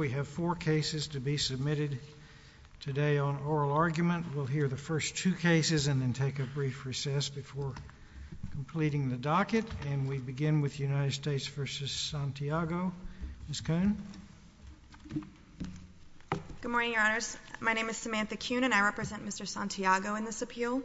We have four cases to be submitted today on oral argument. We'll hear the first two cases and then take a brief recess before completing the docket. And we begin with United States v. Santiago. Ms. Kuhn. Good morning, Your Honors. My name is Samantha Kuhn and I represent Mr. Santiago in this appeal.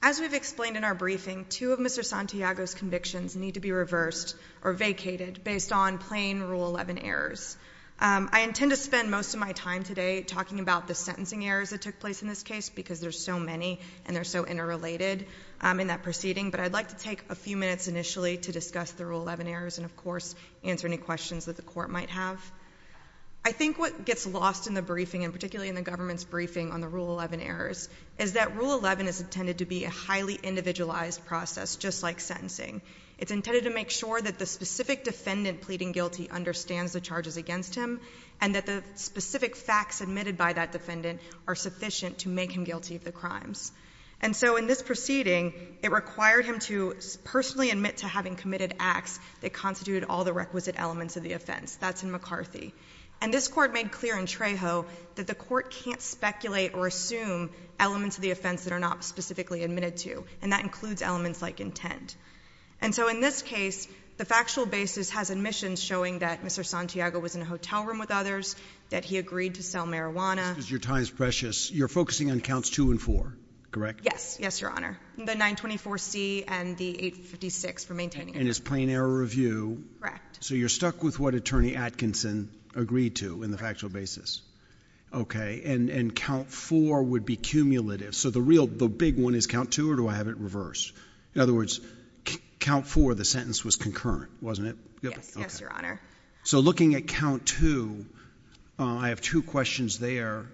As we've explained in our briefing, two of Mr. Santiago's convictions need to be reversed or vacated based on plain Rule XI errors. I intend to spend most of my time today talking about the sentencing errors that took place in this case because there's so many and they're so interrelated in that proceeding. But I'd like to take a few minutes initially to discuss the Rule XI errors and of course answer any questions that the Court might have. I think what gets lost in the briefing and particularly in the government's briefing on the Rule XI errors is that Rule XI is intended to be a highly individualized process just like sentencing. It's intended to make sure that the specific defendant pleading guilty understands the charges against him and that the specific facts admitted by that defendant are sufficient to make him guilty of the crimes. And so in this proceeding, it required him to personally admit to having committed acts that constituted all the requisite elements of the offense. That's in McCarthy. And this Court made clear in Trejo that the Court can't speculate or assume elements of the offense that are not specifically admitted to. And that includes elements like intent. And so in this case, the factual basis has admissions showing that Mr. Santiago was in a hotel room with others, that he agreed to sell marijuana. Because your time is precious. You're focusing on Counts 2 and 4, correct? Yes. Yes, Your Honor. The 924C and the 856 for maintaining evidence. And it's plain error review. Correct. So you're stuck with what Attorney Atkinson agreed to in the factual basis. Okay. And Count 4 would be cumulative. So the real, the big one is Count 2 or do I have it reversed? In other words, Count 4, the sentence was concurrent, wasn't it? Yes. Yes, Your Honor. So looking at Count 2, I have two questions there.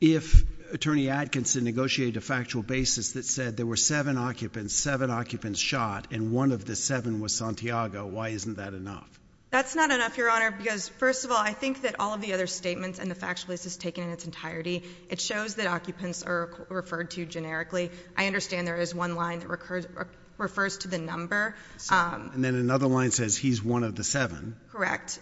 If Attorney Atkinson negotiated a factual basis that said there were seven occupants, seven occupants shot, and one of the seven was Santiago, why isn't that enough? That's not enough, Your Honor. Because first of all, I think that all of the other statements and the factual basis taken in its entirety, it shows that occupants are referred to generically. I understand there is one line that refers to the number. And then another line says he's one of the seven. Correct.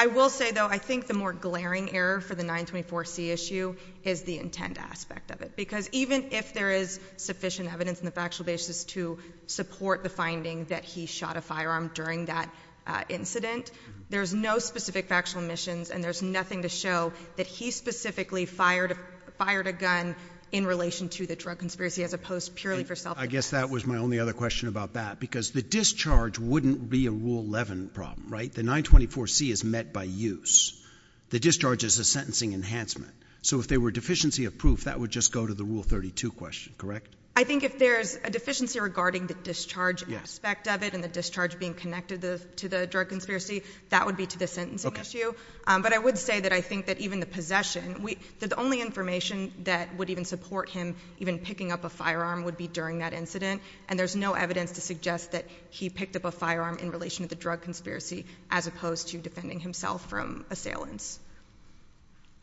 I will say, though, I think the more glaring error for the 924C issue is the intent aspect of it. Because even if there is sufficient evidence in the factual basis to support the finding that he shot a firearm during that incident, there's no specific factual emissions and there's nothing to show that he specifically fired a gun in relation to the drug conspiracy as opposed purely for self defense. I guess that was my only other question about that. Because the discharge wouldn't be a Rule 11 problem, right? The 924C is met by use. The discharge is a sentencing enhancement. So if there were deficiency of proof, that would just go to the Rule 32 question, correct? I think if there's a deficiency regarding the discharge aspect of it and the discharge being connected to the drug conspiracy, that would be to the sentencing issue. But I would say that I think that even the possession, the only information that would even support him even picking up a firearm would be during that incident. And there's no evidence to suggest that he picked up a firearm in relation to the drug conspiracy as opposed to defending himself from assailants.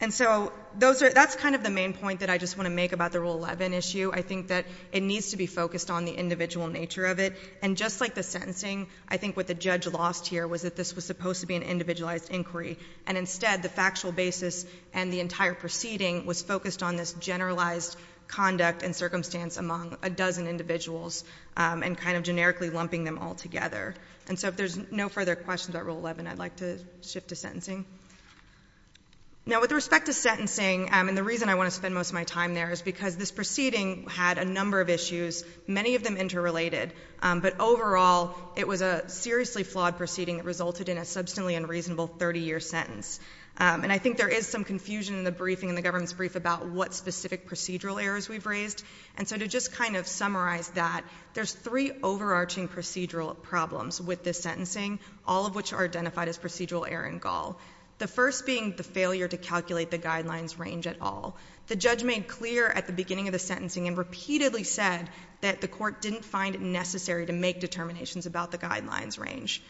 And so that's kind of the main point that I just want to make about the Rule 11 issue. I think that it needs to be focused on the individual nature of it. And just like the I think what the judge lost here was that this was supposed to be an individualized inquiry. And instead, the factual basis and the entire proceeding was focused on this generalized conduct and circumstance among a dozen individuals and kind of generically lumping them all together. And so if there's no further questions about Rule 11, I'd like to shift to sentencing. Now with respect to sentencing, and the reason I want to spend most of my time there is because this proceeding had a number of issues, many of them interrelated. But overall, it was a seriously flawed proceeding that resulted in a substantially unreasonable 30-year sentence. And I think there is some confusion in the briefing, in the government's brief about what specific procedural errors we've raised. And so to just kind of summarize that, there's three overarching procedural problems with this sentencing, all of which are identified as procedural error in Gall. The first being the failure to calculate the guidelines range at all. The judge made clear at the beginning of the sentencing and repeatedly said that the court didn't find it necessary to make determinations about the guidelines range.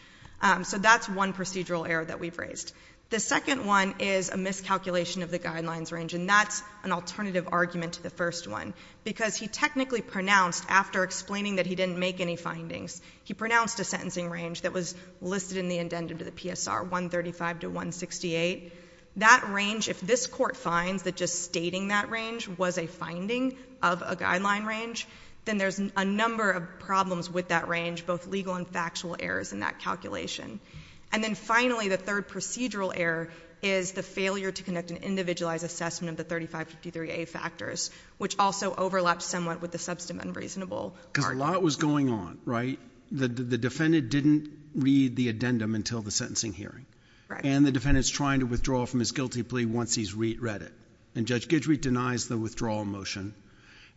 So that's one procedural error that we've raised. The second one is a miscalculation of the guidelines range, and that's an alternative argument to the first one. Because he technically pronounced, after explaining that he didn't make any findings, he pronounced a sentencing range that was listed in the indented to the court, just stating that range was a finding of a guideline range. Then there's a number of problems with that range, both legal and factual errors in that calculation. And then finally, the third procedural error is the failure to conduct an individualized assessment of the 3553A factors, which also overlaps somewhat with the substantive unreasonable argument. Because a lot was going on, right? The defendant didn't read the addendum until the sentencing hearing. And the defendant's trying to withdraw from his guilty plea once he's read it. And Judge Guidry denies the withdrawal motion.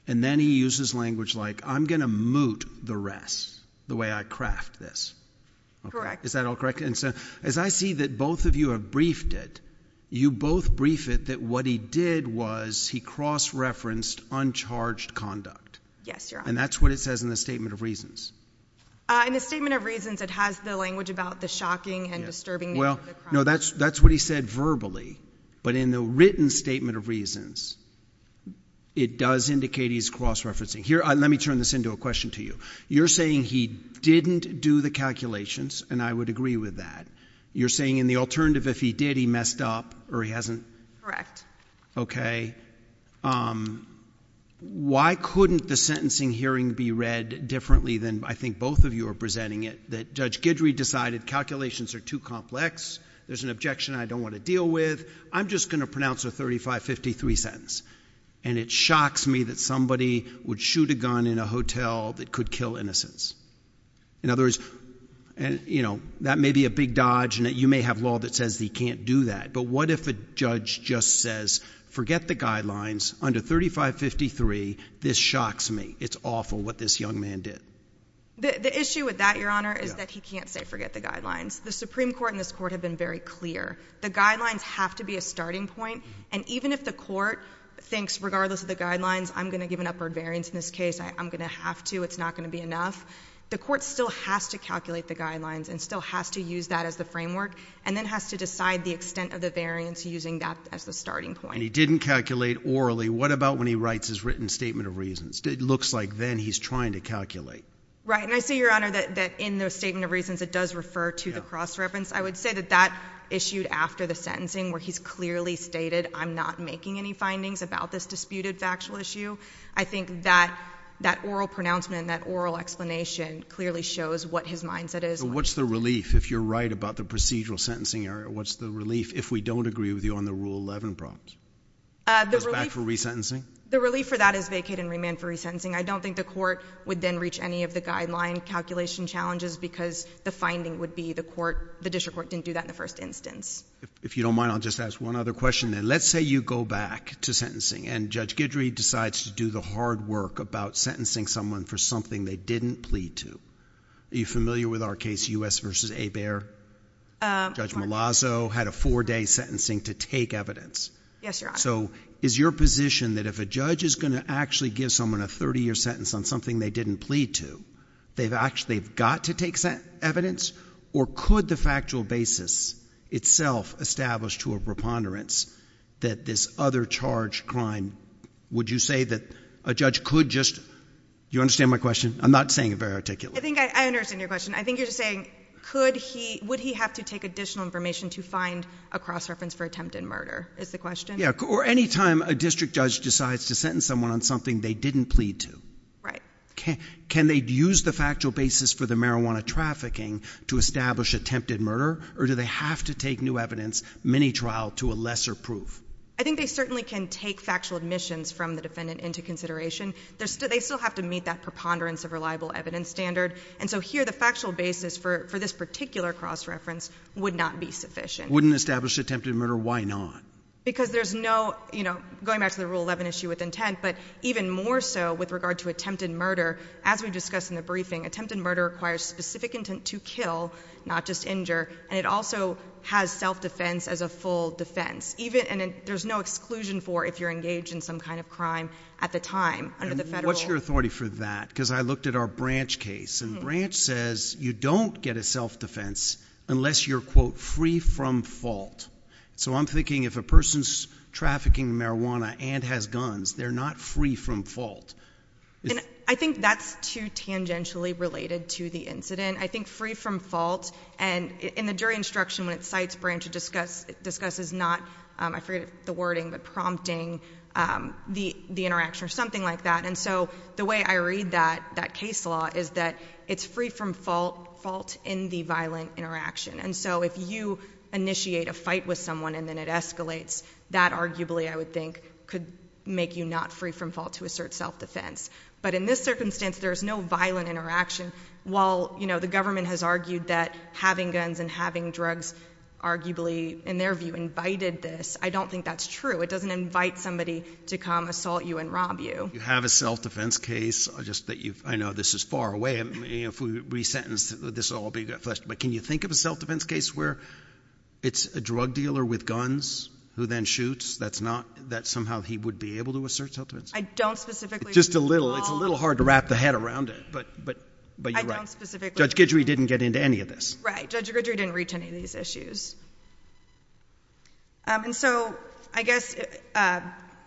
And then he uses language like, I'm going to moot the rest, the way I craft this. Correct. Is that all correct? And so as I see that both of you have briefed it, you both brief it that what he did was he cross-referenced uncharged conduct. Yes, Your Honor. And that's what it says in the Statement of Reasons. In the Statement of Reasons, it has the language about the shocking and disturbing nature of the crime. No, that's what he said verbally. But in the written Statement of Reasons, it does indicate he's cross-referencing. Here, let me turn this into a question to you. You're saying he didn't do the calculations, and I would agree with that. You're saying in the alternative, if he did, he messed up, or he hasn't? Correct. Okay. Why couldn't the sentencing hearing be read differently than I think both of you are presenting it? That Judge Guidry decided calculations are too complex, there's an objection I don't want to deal with, I'm just going to pronounce a 3553 sentence. And it shocks me that somebody would shoot a gun in a hotel that could kill innocents. In other words, that may be a big dodge, and you may have law that says that you can't do that. But what if a judge just says, forget the guidelines, under 3553, this shocks me, it's awful what this young man did? The issue with that, Your Honor, is that he can't say forget the guidelines. The Supreme Court and this Court have been very clear. The guidelines have to be a starting point, and even if the Court thinks, regardless of the guidelines, I'm going to give an upward variance in this case, I'm going to have to, it's not going to be enough, the Court still has to calculate the guidelines and still has to use that as the framework, and then has to decide the extent of the variance using that as the starting point. And he didn't calculate orally. What about when he writes his written statement of reasons? It looks like then he's trying to calculate. Right, and I see, Your Honor, that in the statement of reasons it does refer to the cross-reference. I would say that that issued after the sentencing, where he's clearly stated, I'm not making any findings about this disputed factual issue. I think that oral pronouncement and that oral explanation clearly shows what his mindset is. So what's the relief, if you're right, about the procedural sentencing area? What's the relief if we don't agree with you on the Rule 11 prompt? The relief for that is vacated and remanded for resentencing. I don't think the Court would then reach any of the guideline calculation challenges because the finding would be the District Court didn't do that in the first instance. If you don't mind, I'll just ask one other question then. Let's say you go back to sentencing and Judge Guidry decides to do the hard work about sentencing someone for something they didn't plead to. In this case, U.S. v. Hebert, Judge Malazzo had a four-day sentencing to take evidence. Yes, Your Honor. So is your position that if a judge is going to actually give someone a 30-year sentence on something they didn't plead to, they've got to take evidence? Or could the factual basis itself establish to a preponderance that this other charged crime—would you say that a judge could just—you understand my question? I'm not saying it very articulately. I think I understand your question. I think you're just saying, would he have to take additional information to find a cross-reference for attempted murder, is the question? Or any time a district judge decides to sentence someone on something they didn't plead to. Can they use the factual basis for the marijuana trafficking to establish attempted murder? Or do they have to take new evidence, mini-trial, to a lesser proof? I think they certainly can take factual admissions from the defendant into consideration. They still have to meet that preponderance of reliable evidence standard. And so here the factual basis for this particular cross-reference would not be sufficient. Wouldn't establish attempted murder. Why not? Because there's no—going back to the Rule 11 issue with intent, but even more so with regard to attempted murder, as we discussed in the briefing, attempted murder requires specific intent to kill, not just injure. And it also has self-defense as a full defense. There's no exclusion for if you're engaged in some kind of crime at the time under the authority for that, because I looked at our Branch case, and Branch says you don't get a self-defense unless you're, quote, free from fault. So I'm thinking if a person's trafficking marijuana and has guns, they're not free from fault. I think that's too tangentially related to the incident. I think free from fault, and in the jury instruction when it cites Branch, it discusses not—I forget the wording, but the way I read that case law is that it's free from fault in the violent interaction. And so if you initiate a fight with someone and then it escalates, that arguably, I would think, could make you not free from fault to assert self-defense. But in this circumstance, there's no violent interaction. While, you know, the government has argued that having guns and having drugs arguably, in their view, invited this, I don't think that's true. It doesn't invite somebody to come assault you and rob you. You have a self-defense case, just that you've—I know this is far away, and if we re-sentence, this will all be fleshed, but can you think of a self-defense case where it's a drug dealer with guns who then shoots? That's not—that somehow he would be able to assert self-defense? I don't specifically— Just a little. It's a little hard to wrap the head around it, but you're right. I don't specifically— Judge Guidry didn't get into any of this. Right. Judge Guidry didn't reach any of these issues. And so, I guess,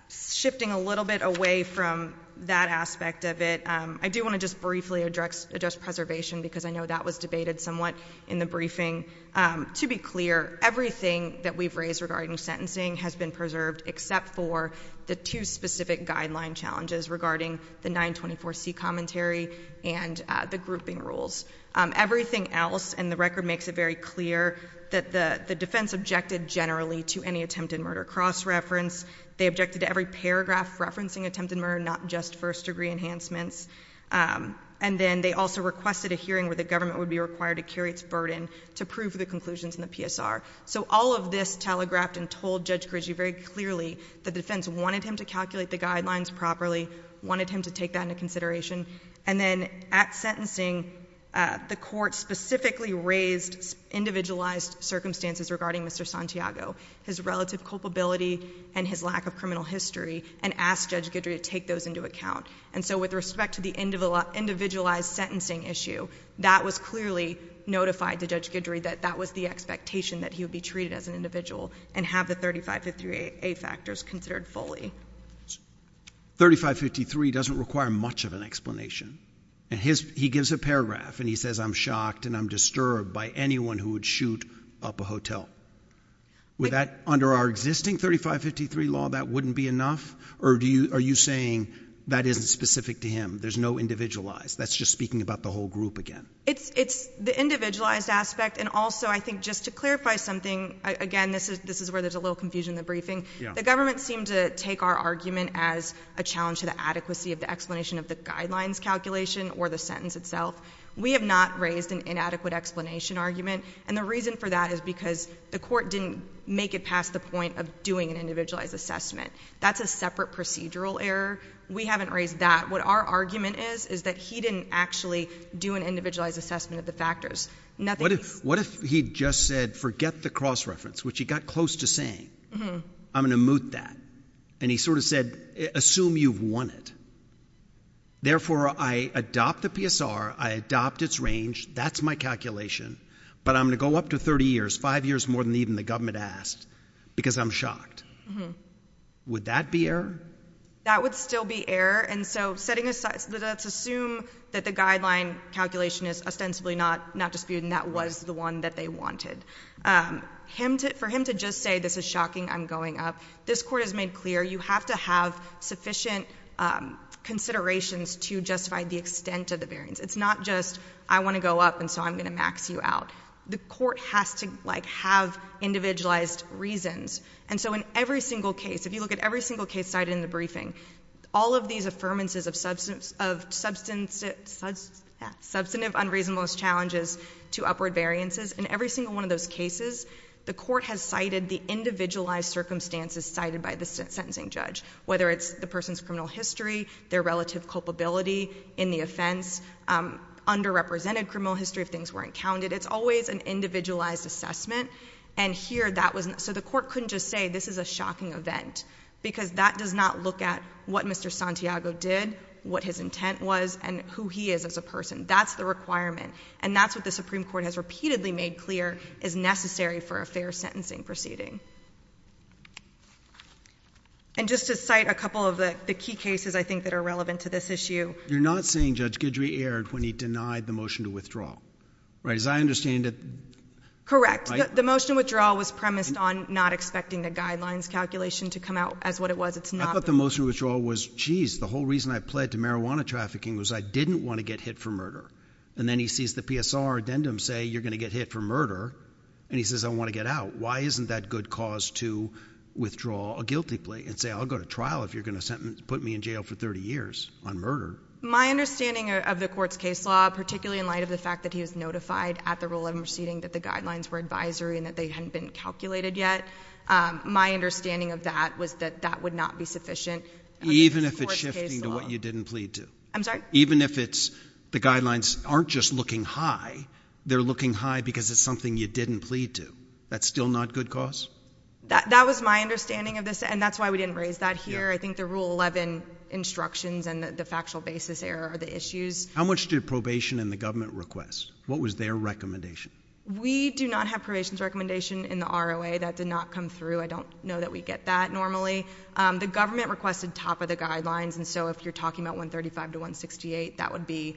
shifting a little bit away from that aspect of it, I do want to just briefly address preservation, because I know that was debated somewhat in the briefing. To be clear, everything that we've raised regarding sentencing has been preserved, except for the two specific guideline challenges regarding the 924C commentary and the grouping rules. Everything else in the record makes it very clear that the defense objected generally to any attempted murder cross-reference. They objected to every paragraph referencing attempted murder, not just first-degree enhancements. And then they also requested a hearing where the government would be required to carry its burden to prove the conclusions in the PSR. So all of this telegraphed and told Judge Guidry very clearly that the defense wanted him to calculate the guidelines properly, wanted him to take that into consideration. And then, at sentencing, the Court specifically raised individualized circumstances regarding Mr. Santiago, his relative culpability and his lack of criminal history, and asked Judge Guidry to take those into account. And so, with respect to the individualized sentencing issue, that was clearly notified to Judge Guidry that that was the expectation, that he would be treated as an individual and have the 3553A factors considered fully. 3553 doesn't require much of an explanation. He gives a paragraph and he says, I'm shocked and I'm disturbed by anyone who would shoot up a hotel. Would that, under our existing 3553 law, that wouldn't be enough? Or are you saying that isn't specific to him, there's no individualized, that's just speaking about the whole group again? It's the individualized aspect. And also, I think, just to clarify something, again, this is where there's a little confusion in the briefing. The government seemed to take our argument as a challenge to the adequacy of the explanation of the guidelines calculation or the sentence itself. We have not raised an inadequate explanation argument. And the reason for that is because the Court didn't make it past the point of doing an individualized assessment. That's a separate procedural error. We haven't raised that. What our argument is, is that he didn't actually do an individualized assessment of the factors. What if he just said, forget the cross-reference, which he got close to saying? I'm going to moot that. And he sort of said, assume you've won it. Therefore, I adopt the PSR, I adopt its range, that's my calculation, but I'm going to go up to 30 years, five years more than even the government asked, because I'm shocked. Would that be error? That would still be error. Let's assume that the guideline calculation is ostensibly not disputed, and that was the one that they wanted. For him to just say, this is shocking, I'm going up, this Court has made clear you have to have sufficient considerations to justify the extent of the variance. It's not just, I want to go up, and so I'm going to max you out. The Court has to have individualized reasons. And so in every single case, if you look at every single case cited in the briefing, all of these affirmances of substantive, unreasonable challenges to upward variances, in every single one of those cases, the Court has cited the individualized circumstances cited by the sentencing judge, whether it's the person's criminal history, their relative culpability in the offense, underrepresented criminal history if things weren't counted. It's always an individualized assessment. And here, that was, so the Court couldn't just say, this is a shocking event, because that does not look at what Mr. Santiago did, what his intent was, and who he is as a person. That's the requirement. And that's what the Supreme Court has repeatedly made clear is necessary for a fair sentencing proceeding. And just to cite a couple of the key cases, I think, that are relevant to this issue. You're not saying Judge Guidry erred when he denied the motion to withdraw, right? As I understand it. Correct. The motion to withdraw was premised on not expecting the guidelines calculation to come out as what it was. I thought the motion to withdraw was, jeez, the whole reason I pled to marijuana trafficking was I didn't want to get hit for murder. And then he sees the PSR addendum say, you're going to get hit for murder, and he says, I want to get out. Why isn't that good cause to withdraw a guilty plea and say, I'll go to trial if you're going to put me in jail for 30 years on murder? My understanding of the Court's case law, particularly in light of the fact that he was notified at the Rule 11 proceeding that the guidelines were advisory and that they Even if it's shifting to what you didn't plead to? I'm sorry? Even if the guidelines aren't just looking high, they're looking high because it's something you didn't plead to. That's still not good cause? That was my understanding of this, and that's why we didn't raise that here. I think the Rule 11 instructions and the factual basis error are the issues. How much did probation and the government request? What was their recommendation? We do not have probation's recommendation in the ROA. That did not come through. I don't know that we get that normally. The government requested top of the guidelines, and so if you're talking about 135 to 168, that would be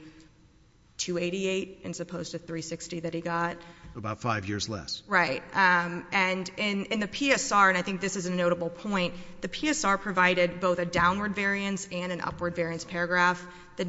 288 as opposed to 360 that he got. About five years less. Right. And in the PSR, and I think this is a notable point, the PSR provided both a downward variance and an upward variance paragraph. In the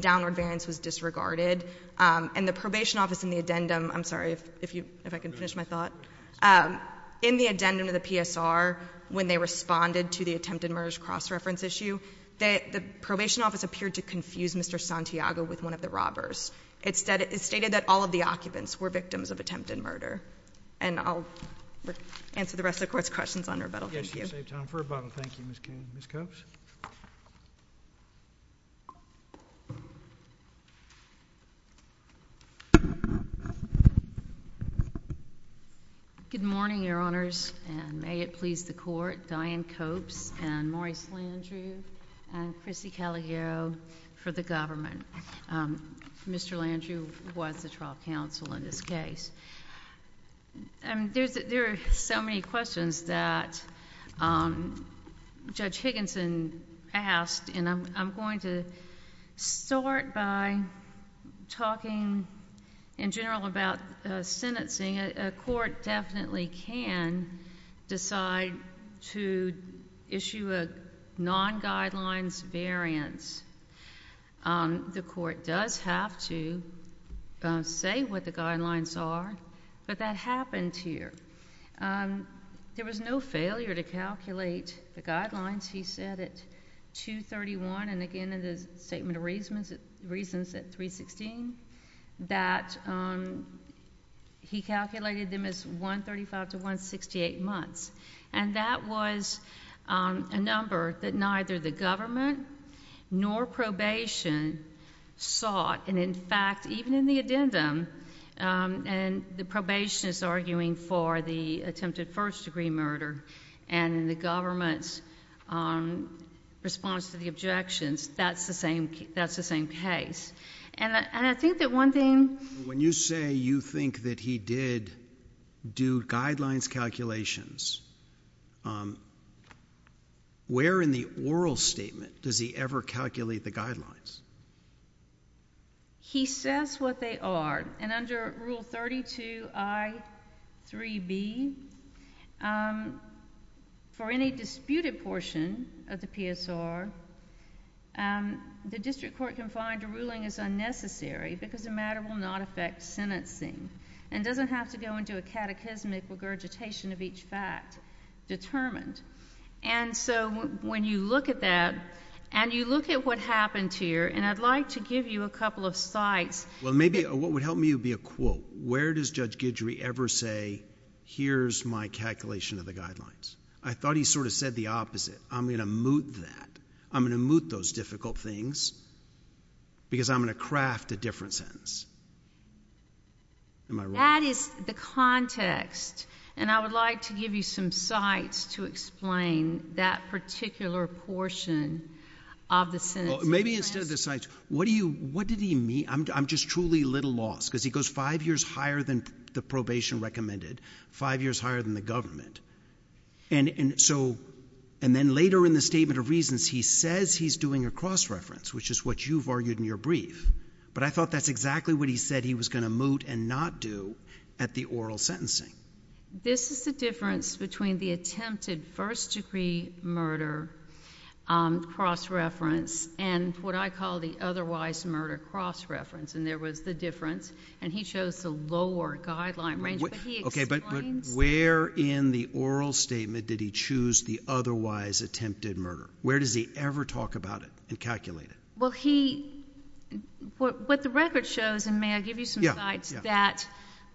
PSR, when they responded to the attempted murderous cross reference issue, that the probation office appeared to confuse Mr. Santiago with one of the robbers. It stated that all of the occupants were victims of attempted murder. And I'll answer the rest of the court's questions on rebuttal. Yes, you saved time for rebuttal. Thank you, Ms. Coates. Good morning, Your Honors, and may it please the court, Diane Coates and Maurice Landrieu and Chrissy Caligaro for the government. Mr. Landrieu was the trial counsel in this case. There are so many questions that Judge Higginson asked, and I'm going to start by talking in general about sentencing. A court definitely can decide to issue a non-guidelines variance. The court does have to say what the guidelines are, but that happened here. There was no failure to calculate the guidelines. He said at 231, and again in the Statement of Reasons at 316, that he calculated them as 135 to 168 months. And that was a number that neither the government nor probation sought. And, in fact, even in the addendum, the probation is arguing for the attempted first-degree murder, and in the government's response to the objections, that's the same case. And I think that one thing... When you say you think that he did do guidelines calculations, where in the oral statement does he ever calculate the guidelines? He says what they are, and under Rule 32I.3b, for any disputed portion of the PSR, the district court can find a ruling is unnecessary because the matter will not affect sentencing and doesn't have to go into a catechismic regurgitation of each fact determined. And so when you look at that, and you look at what happened here, and I'd like to give you a couple of sites... Well, maybe what would help me would be a quote. Where does Judge Guidry ever say, here's my calculation of the guidelines? I thought he sort of said the opposite. I'm going to moot that. I'm going to moot those difficult things because I'm going to craft a different sentence. Am I wrong? That is the context. And I would like to give you some sites to explain that particular portion of the sentence. Maybe instead of the sites, what did he mean? I'm just truly a little lost because he goes five years higher than the probation recommended, five years higher than the government. And then later in the statement of reasons, he says he's doing a cross-reference, which is what you've argued in your brief. But I thought that's exactly what he said he was going to moot and not do at the oral sentencing. This is the difference between the attempted first-degree murder cross-reference and what I call the otherwise murder cross-reference. And there was the difference, and he chose the lower guideline range. But where in the oral statement did he choose the otherwise attempted murder? Where does he ever talk about it and calculate it? Well, what the record shows, and may I give you some sites, that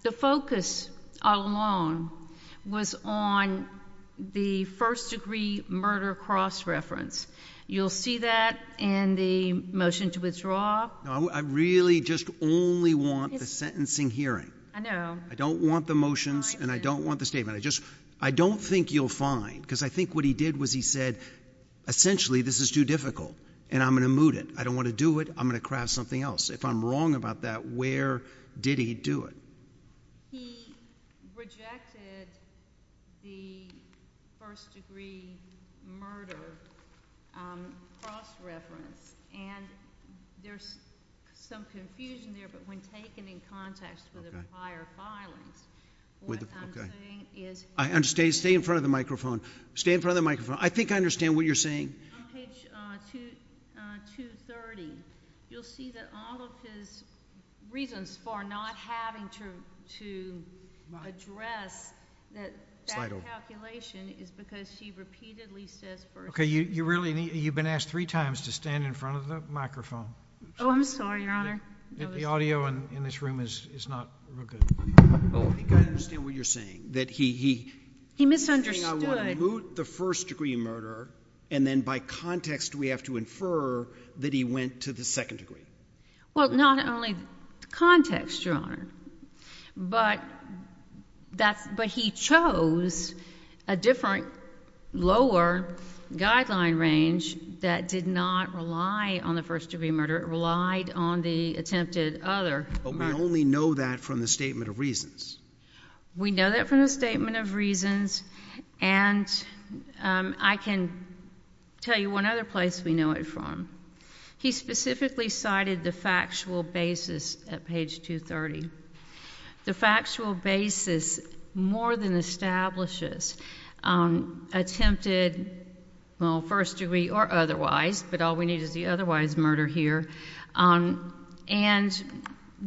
the focus all along was on the first-degree murder cross-reference. You'll see that in the motion to withdraw. I really just only want the sentencing hearing. I know. I don't want the motions, and I don't want the statement. I don't think you'll find, because I think what he did was he said, essentially, this is too difficult, and I'm going to moot it. I don't want to do it. I'm going to craft something else. If I'm wrong about that, where did he do it? He rejected the first-degree murder cross-reference, and there's some confusion there. But when taken in context with the prior filings, what I'm saying is... Stay in front of the microphone. Stay in front of the microphone. I think I understand what you're saying. On page 230, you'll see that all of his reasons for not having to address that calculation is because she repeatedly says first-degree. Okay. You've been asked three times to stand in front of the microphone. Oh, I'm sorry, Your Honor. The audio in this room is not real good. I think I understand what you're saying. He misunderstood. He's saying I want to moot the first-degree murder, and then by context we have to infer that he went to the second degree. Well, not only context, Your Honor, but he chose a different, lower guideline range that did not rely on the first-degree murder. It relied on the attempted other murder. But we only know that from the statement of reasons. We know that from the statement of reasons, and I can tell you one other place we know it from. He specifically cited the factual basis at page 230. The factual basis more than establishes attempted, well, first-degree or otherwise, but all we need is the otherwise murder here. And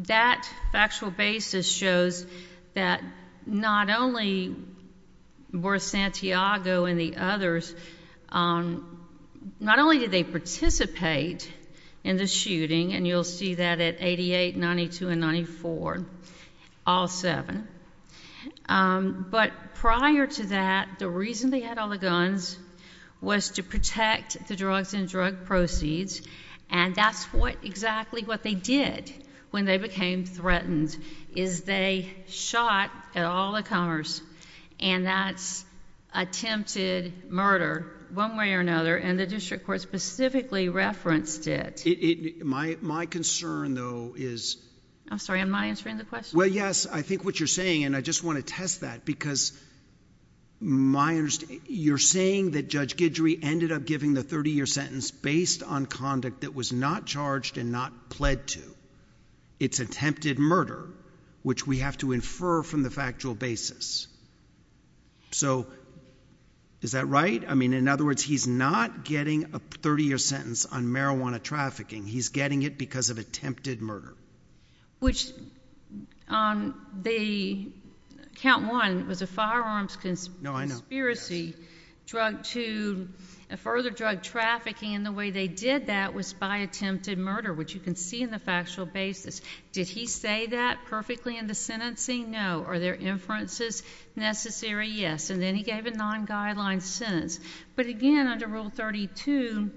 that factual basis shows that not only were Santiago and the others, not only did they participate in the shooting, and you'll see that at 88, 92, and 94, all seven, but prior to that, the reason they had all the guns was to protect the drugs and drug proceeds, and that's exactly what they did when they became threatened, is they shot at all the comers, and that's attempted murder one way or another, and the district court specifically referenced it. My concern, though, is— I'm sorry, am I answering the question? Well, yes, I think what you're saying, and I just want to test that, because you're saying that Judge Guidry ended up giving the 30-year sentence based on conduct that was not charged and not pled to. It's attempted murder, which we have to infer from the factual basis. So is that right? I mean, in other words, he's not getting a 30-year sentence on marijuana trafficking. He's getting it because of attempted murder. Which on the count one, it was a firearms conspiracy. No, I know. Drug two, further drug trafficking, and the way they did that was by attempted murder, which you can see in the factual basis. Did he say that perfectly in the sentencing? No. Are there inferences necessary? Yes. And then he gave a non-guideline sentence. But again, under Rule 32,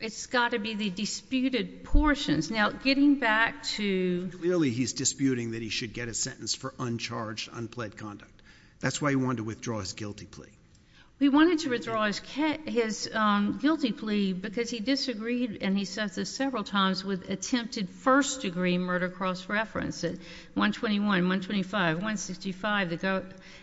it's got to be the disputed portions. Now, getting back to— Clearly he's disputing that he should get a sentence for uncharged, unpled conduct. That's why he wanted to withdraw his guilty plea. He wanted to withdraw his guilty plea because he disagreed, and he says this several times, with attempted first-degree murder cross-references, 121, 125, 165,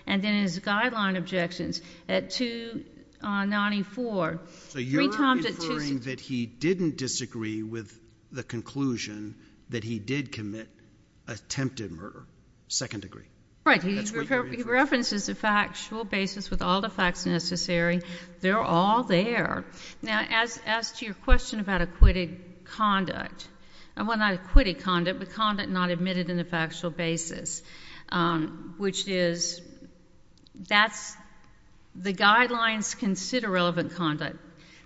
and then his guideline objections at 294. So you're inferring that he didn't disagree with the conclusion that he did commit attempted murder, second degree? Right. He references the factual basis with all the facts necessary. They're all there. Now, as to your question about acquitted conduct, well, not acquitted conduct, but conduct not admitted in the factual basis, which is that's—the guidelines consider relevant conduct.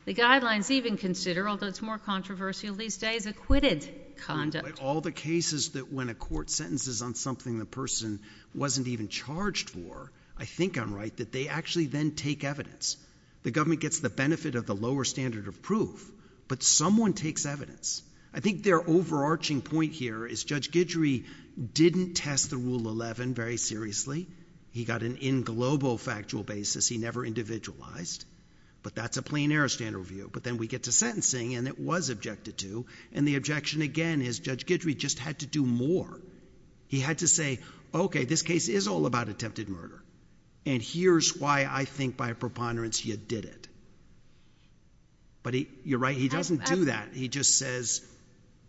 The guidelines even consider, although it's more controversial these days, acquitted conduct. But all the cases that when a court sentences on something the person wasn't even charged for, I think I'm right that they actually then take evidence. The government gets the benefit of the lower standard of proof, but someone takes evidence. I think their overarching point here is Judge Guidry didn't test the Rule 11 very seriously. He got an in globo factual basis. He never individualized, but that's a plain-error standard review. But then we get to sentencing, and it was objected to, and the objection again is Judge Guidry just had to do more. He had to say, okay, this case is all about attempted murder, and here's why I think by preponderance you did it. But you're right, he doesn't do that. He just says—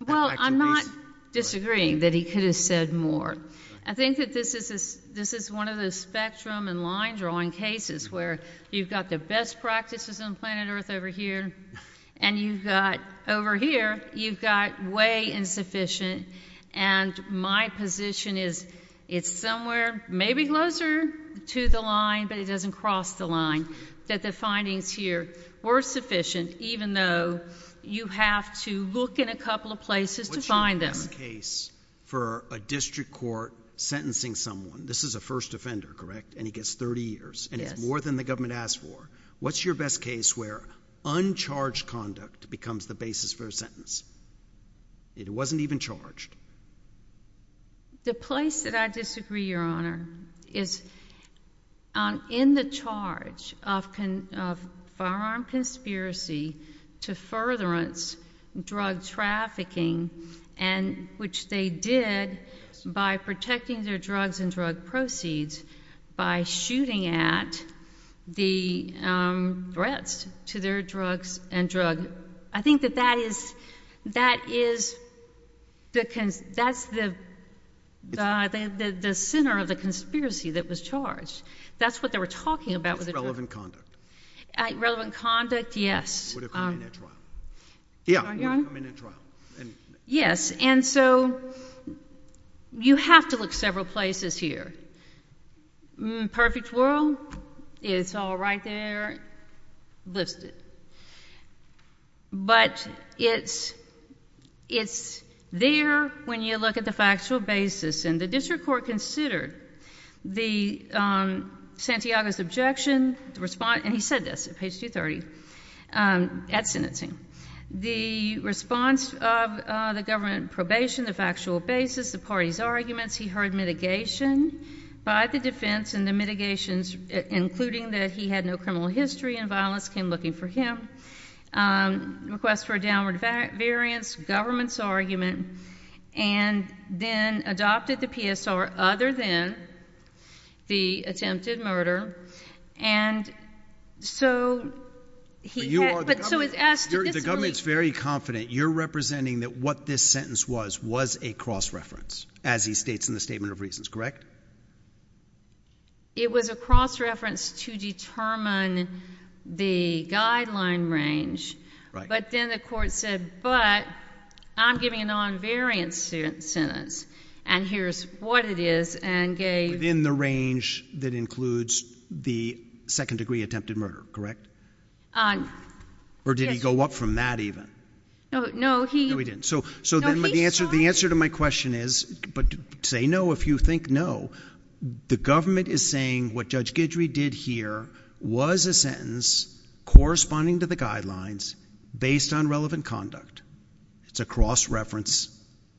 Well, I'm not disagreeing that he could have said more. I think that this is one of those spectrum and line-drawing cases where you've got the best practices on planet Earth over here, and you've got over here, you've got way insufficient, and my position is it's somewhere maybe closer to the line, but it doesn't cross the line, that the findings here were sufficient even though you have to look in a couple of places to find them. What's your best case for a district court sentencing someone? This is a first offender, correct, and he gets 30 years, and it's more than the government asked for. What's your best case where uncharged conduct becomes the basis for a sentence? It wasn't even charged. The place that I disagree, Your Honor, is in the charge of firearm conspiracy to furtherance drug trafficking, which they did by protecting their drugs and drug proceeds by shooting at the threats to their drugs and drug— I think that that is the center of the conspiracy that was charged. That's what they were talking about with the drugs. Was it relevant conduct? Relevant conduct, yes. Would it come in at trial? Yeah, it would come in at trial. Yes, and so you have to look several places here. Perfect world, it's all right there listed, but it's there when you look at the factual basis, and the district court considered Santiago's objection, and he said this at page 230, at sentencing. The response of the government probation, the factual basis, the party's arguments, he heard mitigation by the defense, and the mitigations, including that he had no criminal history and violence, came looking for him, requests for a downward variance, government's argument, and then adopted the PSR other than the attempted murder, and so he had— But you are the government. The government's very confident you're representing that what this sentence was was a cross-reference, as he states in the Statement of Reasons, correct? It was a cross-reference to determine the guideline range, but then the court said, but I'm giving a non-variant sentence, and here's what it is, and gave— Within the range that includes the second-degree attempted murder, correct? Yes. Or did he go up from that even? No, he— No, he didn't. So the answer to my question is, but say no if you think no. The government is saying what Judge Guidry did here was a sentence corresponding to the guidelines based on relevant conduct. It's a cross-reference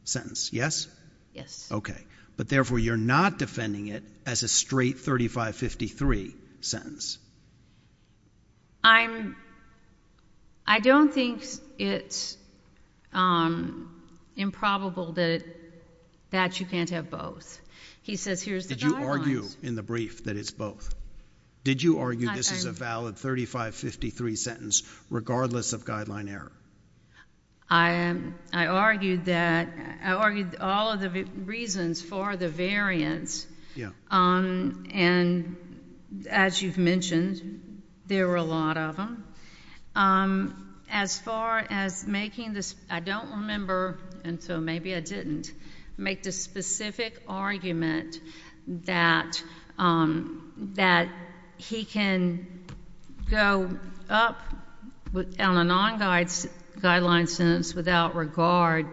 sentence, yes? Yes. Okay. But therefore, you're not defending it as a straight 3553 sentence. I'm—I don't think it's improbable that you can't have both. He says here's the guidelines. Did you argue in the brief that it's both? Did you argue this is a valid 3553 sentence, regardless of guideline error? I argued that—I argued all of the reasons for the variance, and as you've mentioned, there were a lot of them. As far as making this—I don't remember, and so maybe I didn't—make the specific argument that he can go up on a non-guideline sentence without regard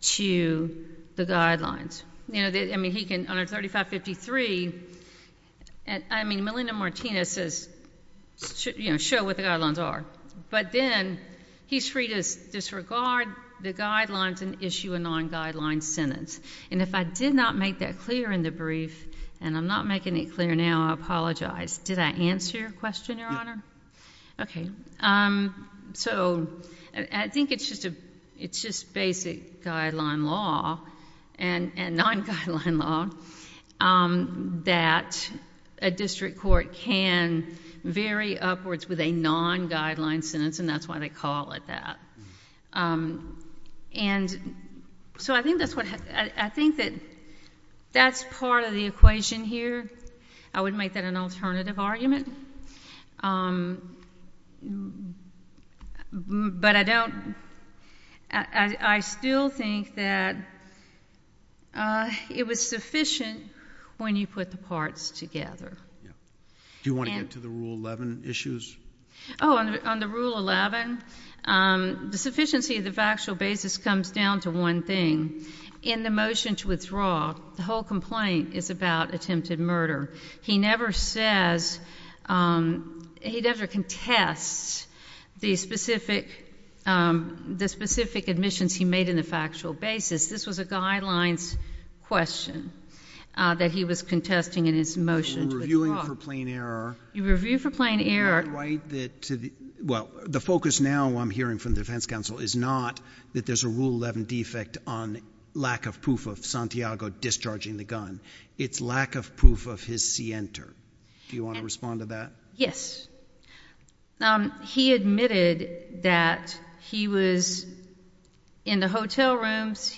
to the guidelines. You know, I mean, he can—on a 3553—I mean, Melinda Martinez says, you know, show what the guidelines are. But then he's free to disregard the guidelines and issue a non-guideline sentence. And if I did not make that clear in the brief, and I'm not making it clear now, I apologize. Did I answer your question, Your Honor? Yes. Okay. So I think it's just basic guideline law and non-guideline law that a district court can vary upwards with a non-guideline sentence, and that's why they call it that. And so I think that's what—I think that that's part of the equation here. I would make that an alternative argument, but I don't—I still think that it was sufficient when you put the parts together. Do you want to get to the Rule 11 issues? Oh, on the Rule 11, the sufficiency of the factual basis comes down to one thing. In the motion to withdraw, the whole complaint is about attempted murder. He never says—he never contests the specific—the specific admissions he made in the factual basis. This was a guidelines question that he was contesting in his motion to withdraw. You're reviewing for plain error. You review for plain error. Well, the focus now, I'm hearing from the defense counsel, is not that there's a Rule 11 defect on lack of proof of Santiago discharging the gun. It's lack of proof of his scienter. Do you want to respond to that? Yes. He admitted that he was in the hotel rooms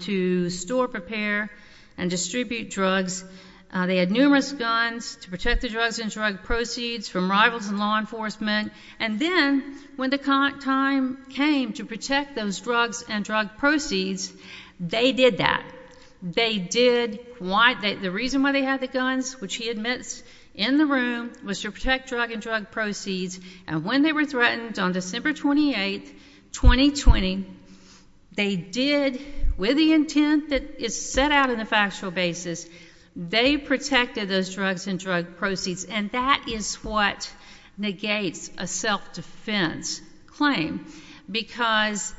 to store, prepare, and distribute drugs. They had numerous guns to protect the drugs and drug proceeds from rivals in law enforcement. And then, when the time came to protect those drugs and drug proceeds, they did that. They did—the reason why they had the guns, which he admits, in the room, was to protect drug and drug proceeds. And when they were threatened on December 28, 2020, they did, with the intent that is set out in the factual basis, they protected those drugs and drug proceeds. And that is what negates a self-defense claim because—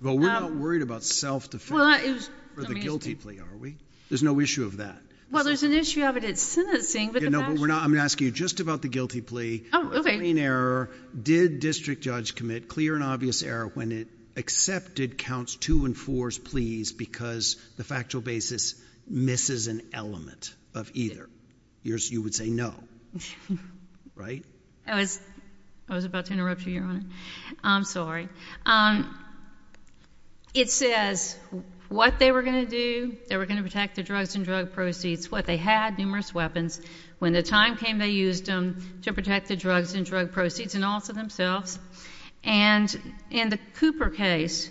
Well, we're not worried about self-defense for the guilty plea, are we? There's no issue of that. Well, there's an issue of it at sentencing. No, but we're not—I'm going to ask you just about the guilty plea. Oh, okay. A clean error. Did district judge commit clear and obvious error when it accepted counts two and four's pleas because the factual basis misses an element of either? You would say no, right? I was about to interrupt you, Your Honor. I'm sorry. It says what they were going to do, they were going to protect the drugs and drug proceeds, what they had, numerous weapons. When the time came, they used them to protect the drugs and drug proceeds and also themselves. And in the Cooper case,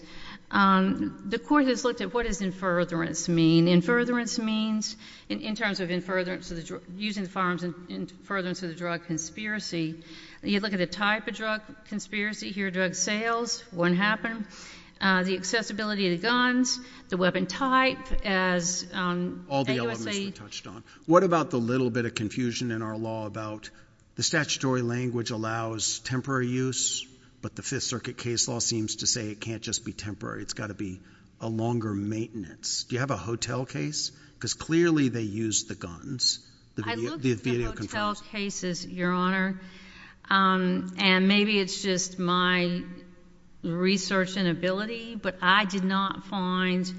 the court has looked at what does in furtherance mean. In furtherance means, in terms of using the firearms in furtherance of the drug conspiracy, you look at the type of drug conspiracy here, the type of drug sales, what happened, the accessibility of the guns, the weapon type as— All the elements you touched on. What about the little bit of confusion in our law about the statutory language allows temporary use, but the Fifth Circuit case law seems to say it can't just be temporary. It's got to be a longer maintenance. Do you have a hotel case? Because clearly they used the guns. I looked at hotel cases, Your Honor. And maybe it's just my research inability, but I did not find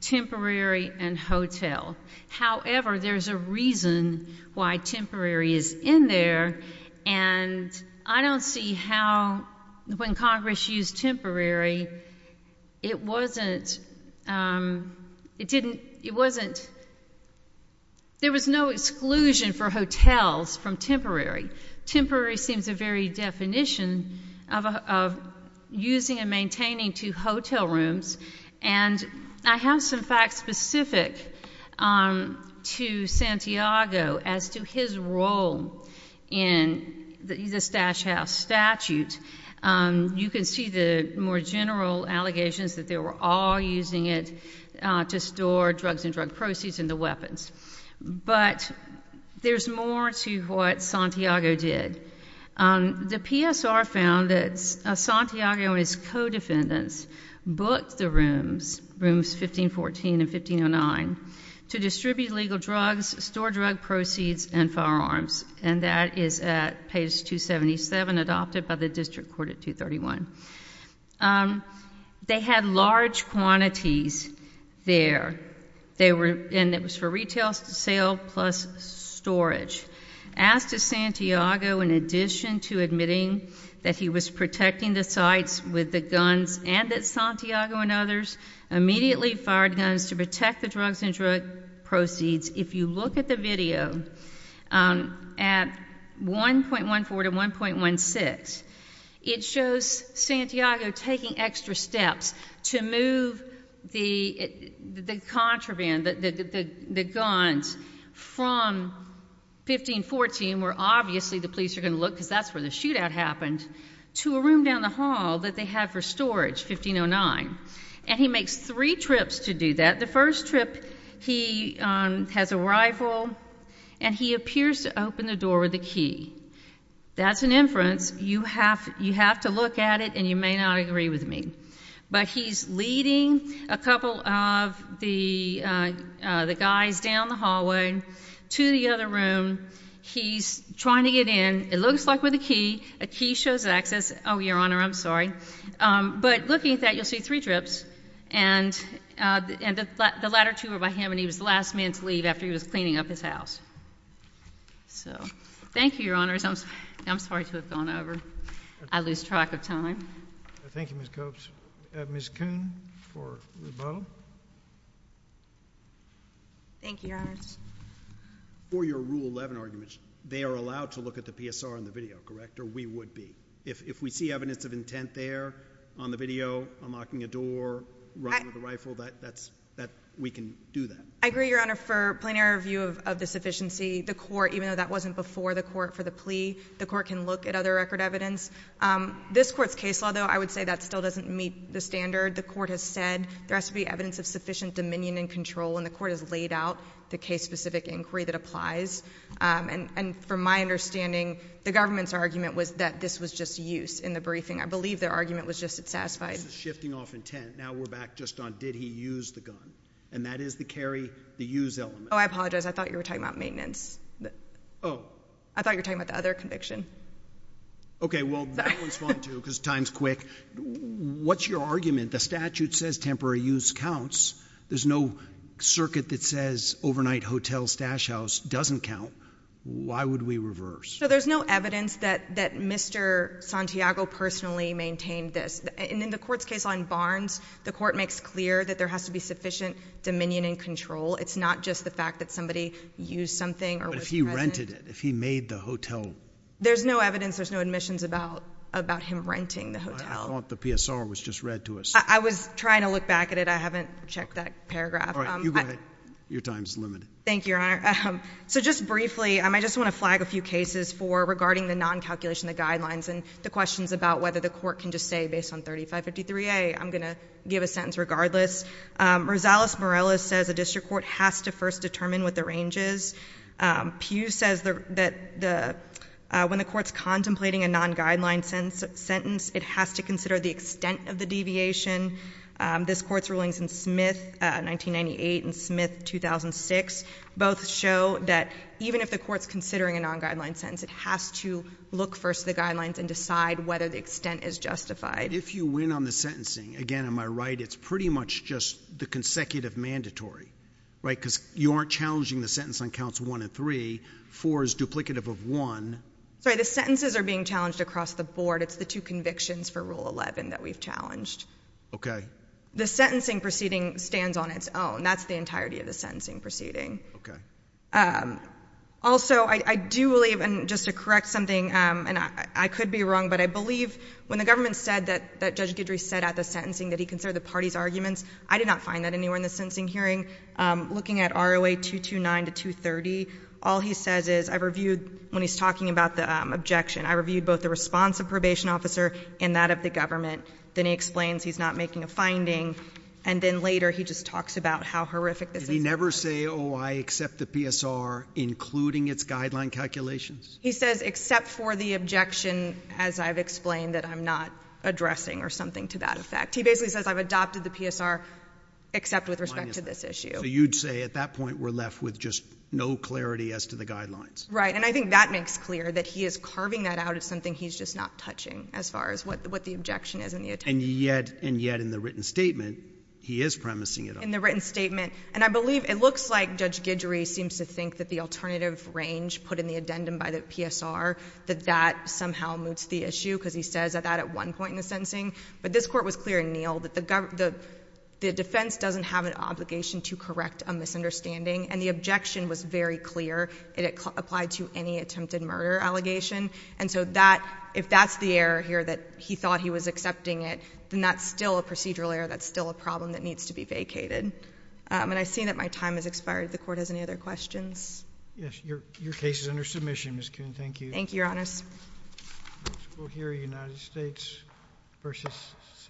temporary and hotel. However, there's a reason why temporary is in there, and I don't see how, when Congress used temporary, it wasn't— There was no exclusion for hotels from temporary. Temporary seems a very definition of using and maintaining two hotel rooms. And I have some facts specific to Santiago as to his role in the Stash House statute. You can see the more general allegations that they were all using it to store drugs and drug proceeds in the weapons. But there's more to what Santiago did. The PSR found that Santiago and his co-defendants booked the rooms, rooms 1514 and 1509, to distribute legal drugs, store drug proceeds, and firearms. And that is at page 277, adopted by the District Court at 231. They had large quantities there. And it was for retail sale plus storage. Asked if Santiago, in addition to admitting that he was protecting the sites with the guns and that Santiago and others immediately fired guns to protect the drugs and drug proceeds. If you look at the video at 1.14 to 1.16, it shows Santiago taking extra steps to move the contraband, the guns, from 1514, where obviously the police are going to look because that's where the shootout happened, to a room down the hall that they had for storage, 1509. And he makes three trips to do that. The first trip, he has a rifle, and he appears to open the door with a key. That's an inference. You have to look at it, and you may not agree with me. But he's leading a couple of the guys down the hallway to the other room. He's trying to get in. It looks like with a key. A key shows access. Oh, Your Honor, I'm sorry. But looking at that, you'll see three trips, and the latter two are by him, and he was the last man to leave after he was cleaning up his house. So thank you, Your Honors. I'm sorry to have gone over. I lose track of time. Thank you, Ms. Copes. Ms. Coon for rebuttal. Thank you, Your Honors. For your Rule 11 arguments, they are allowed to look at the PSR in the video, correct, or we would be. If we see evidence of intent there on the video, unlocking a door, running with a rifle, we can do that. I agree, Your Honor. For plenary review of the sufficiency, the court, even though that wasn't before the court for the plea, the court can look at other record evidence. This court's case law, though, I would say that still doesn't meet the standard. The court has said there has to be evidence of sufficient dominion and control, and the court has laid out the case-specific inquiry that applies. And from my understanding, the government's argument was that this was just use in the briefing. I believe their argument was just it satisfied. This is shifting off intent. Now we're back just on did he use the gun, and that is the carry, the use element. Oh, I apologize. I thought you were talking about maintenance. Oh. I thought you were talking about the other conviction. Okay, well, that one's fine, too, because time's quick. What's your argument? The statute says temporary use counts. There's no circuit that says overnight hotel stash house doesn't count. Why would we reverse? So there's no evidence that Mr. Santiago personally maintained this. And in the court's case law in Barnes, the court makes clear that there has to be sufficient dominion and control. It's not just the fact that somebody used something or was present. But if he rented it, if he made the hotel. There's no evidence. There's no admissions about him renting the hotel. I thought the PSR was just read to us. I was trying to look back at it. I haven't checked that paragraph. All right. You go ahead. Your time's limited. Thank you, Your Honor. So just briefly, I just want to flag a few cases for regarding the non-calculation of the guidelines and the questions about whether the court can just say, based on 3553A, I'm going to give a sentence regardless. Rosales-Morales says a district court has to first determine what the range is. Pugh says that when the court's contemplating a non-guideline sentence, it has to consider the extent of the deviation. This court's rulings in Smith, 1998, and Smith, 2006, both show that even if the court's considering a non-guideline sentence, it has to look first at the guidelines and decide whether the extent is justified. If you win on the sentencing, again, am I right, it's pretty much just the consecutive mandatory, right? Because you aren't challenging the sentence on counts one and three. Four is duplicative of one. Sorry. The sentences are being challenged across the board. It's the two convictions for Rule 11 that we've challenged. Okay. The sentencing proceeding stands on its own. That's the entirety of the sentencing proceeding. Okay. Also, I do believe, and just to correct something, and I could be wrong, but I believe when the government said that Judge Guidry said at the sentencing that he considered the party's arguments, I did not find that anywhere in the sentencing hearing. Looking at ROA 229 to 230, all he says is, I reviewed, when he's talking about the objection, I reviewed both the response of probation officer and that of the government. Then he explains he's not making a finding, and then later he just talks about how horrific this is. Did he never say, oh, I accept the PSR, including its guideline calculations? He says except for the objection, as I've explained, that I'm not addressing or something to that effect. He basically says I've adopted the PSR except with respect to this issue. So you'd say at that point we're left with just no clarity as to the guidelines. Right. And I think that makes clear that he is carving that out as something he's just not touching as far as what the objection is. And yet in the written statement, he is premising it. In the written statement. And I believe it looks like Judge Guidry seems to think that the alternative range put in the addendum by the PSR, that that somehow moots the issue because he says that at one point in the sentencing. But this Court was clear in Neal that the defense doesn't have an obligation to correct a misunderstanding, and the objection was very clear. It applied to any attempted murder allegation. And so that, if that's the error here that he thought he was accepting it, then that's still a procedural error. That's still a problem that needs to be vacated. And I see that my time has expired. If the Court has any other questions. Yes, your case is under submission, Ms. Kuhn. Thank you. Thank you, Your Honors. We'll hear United States v. San Diego.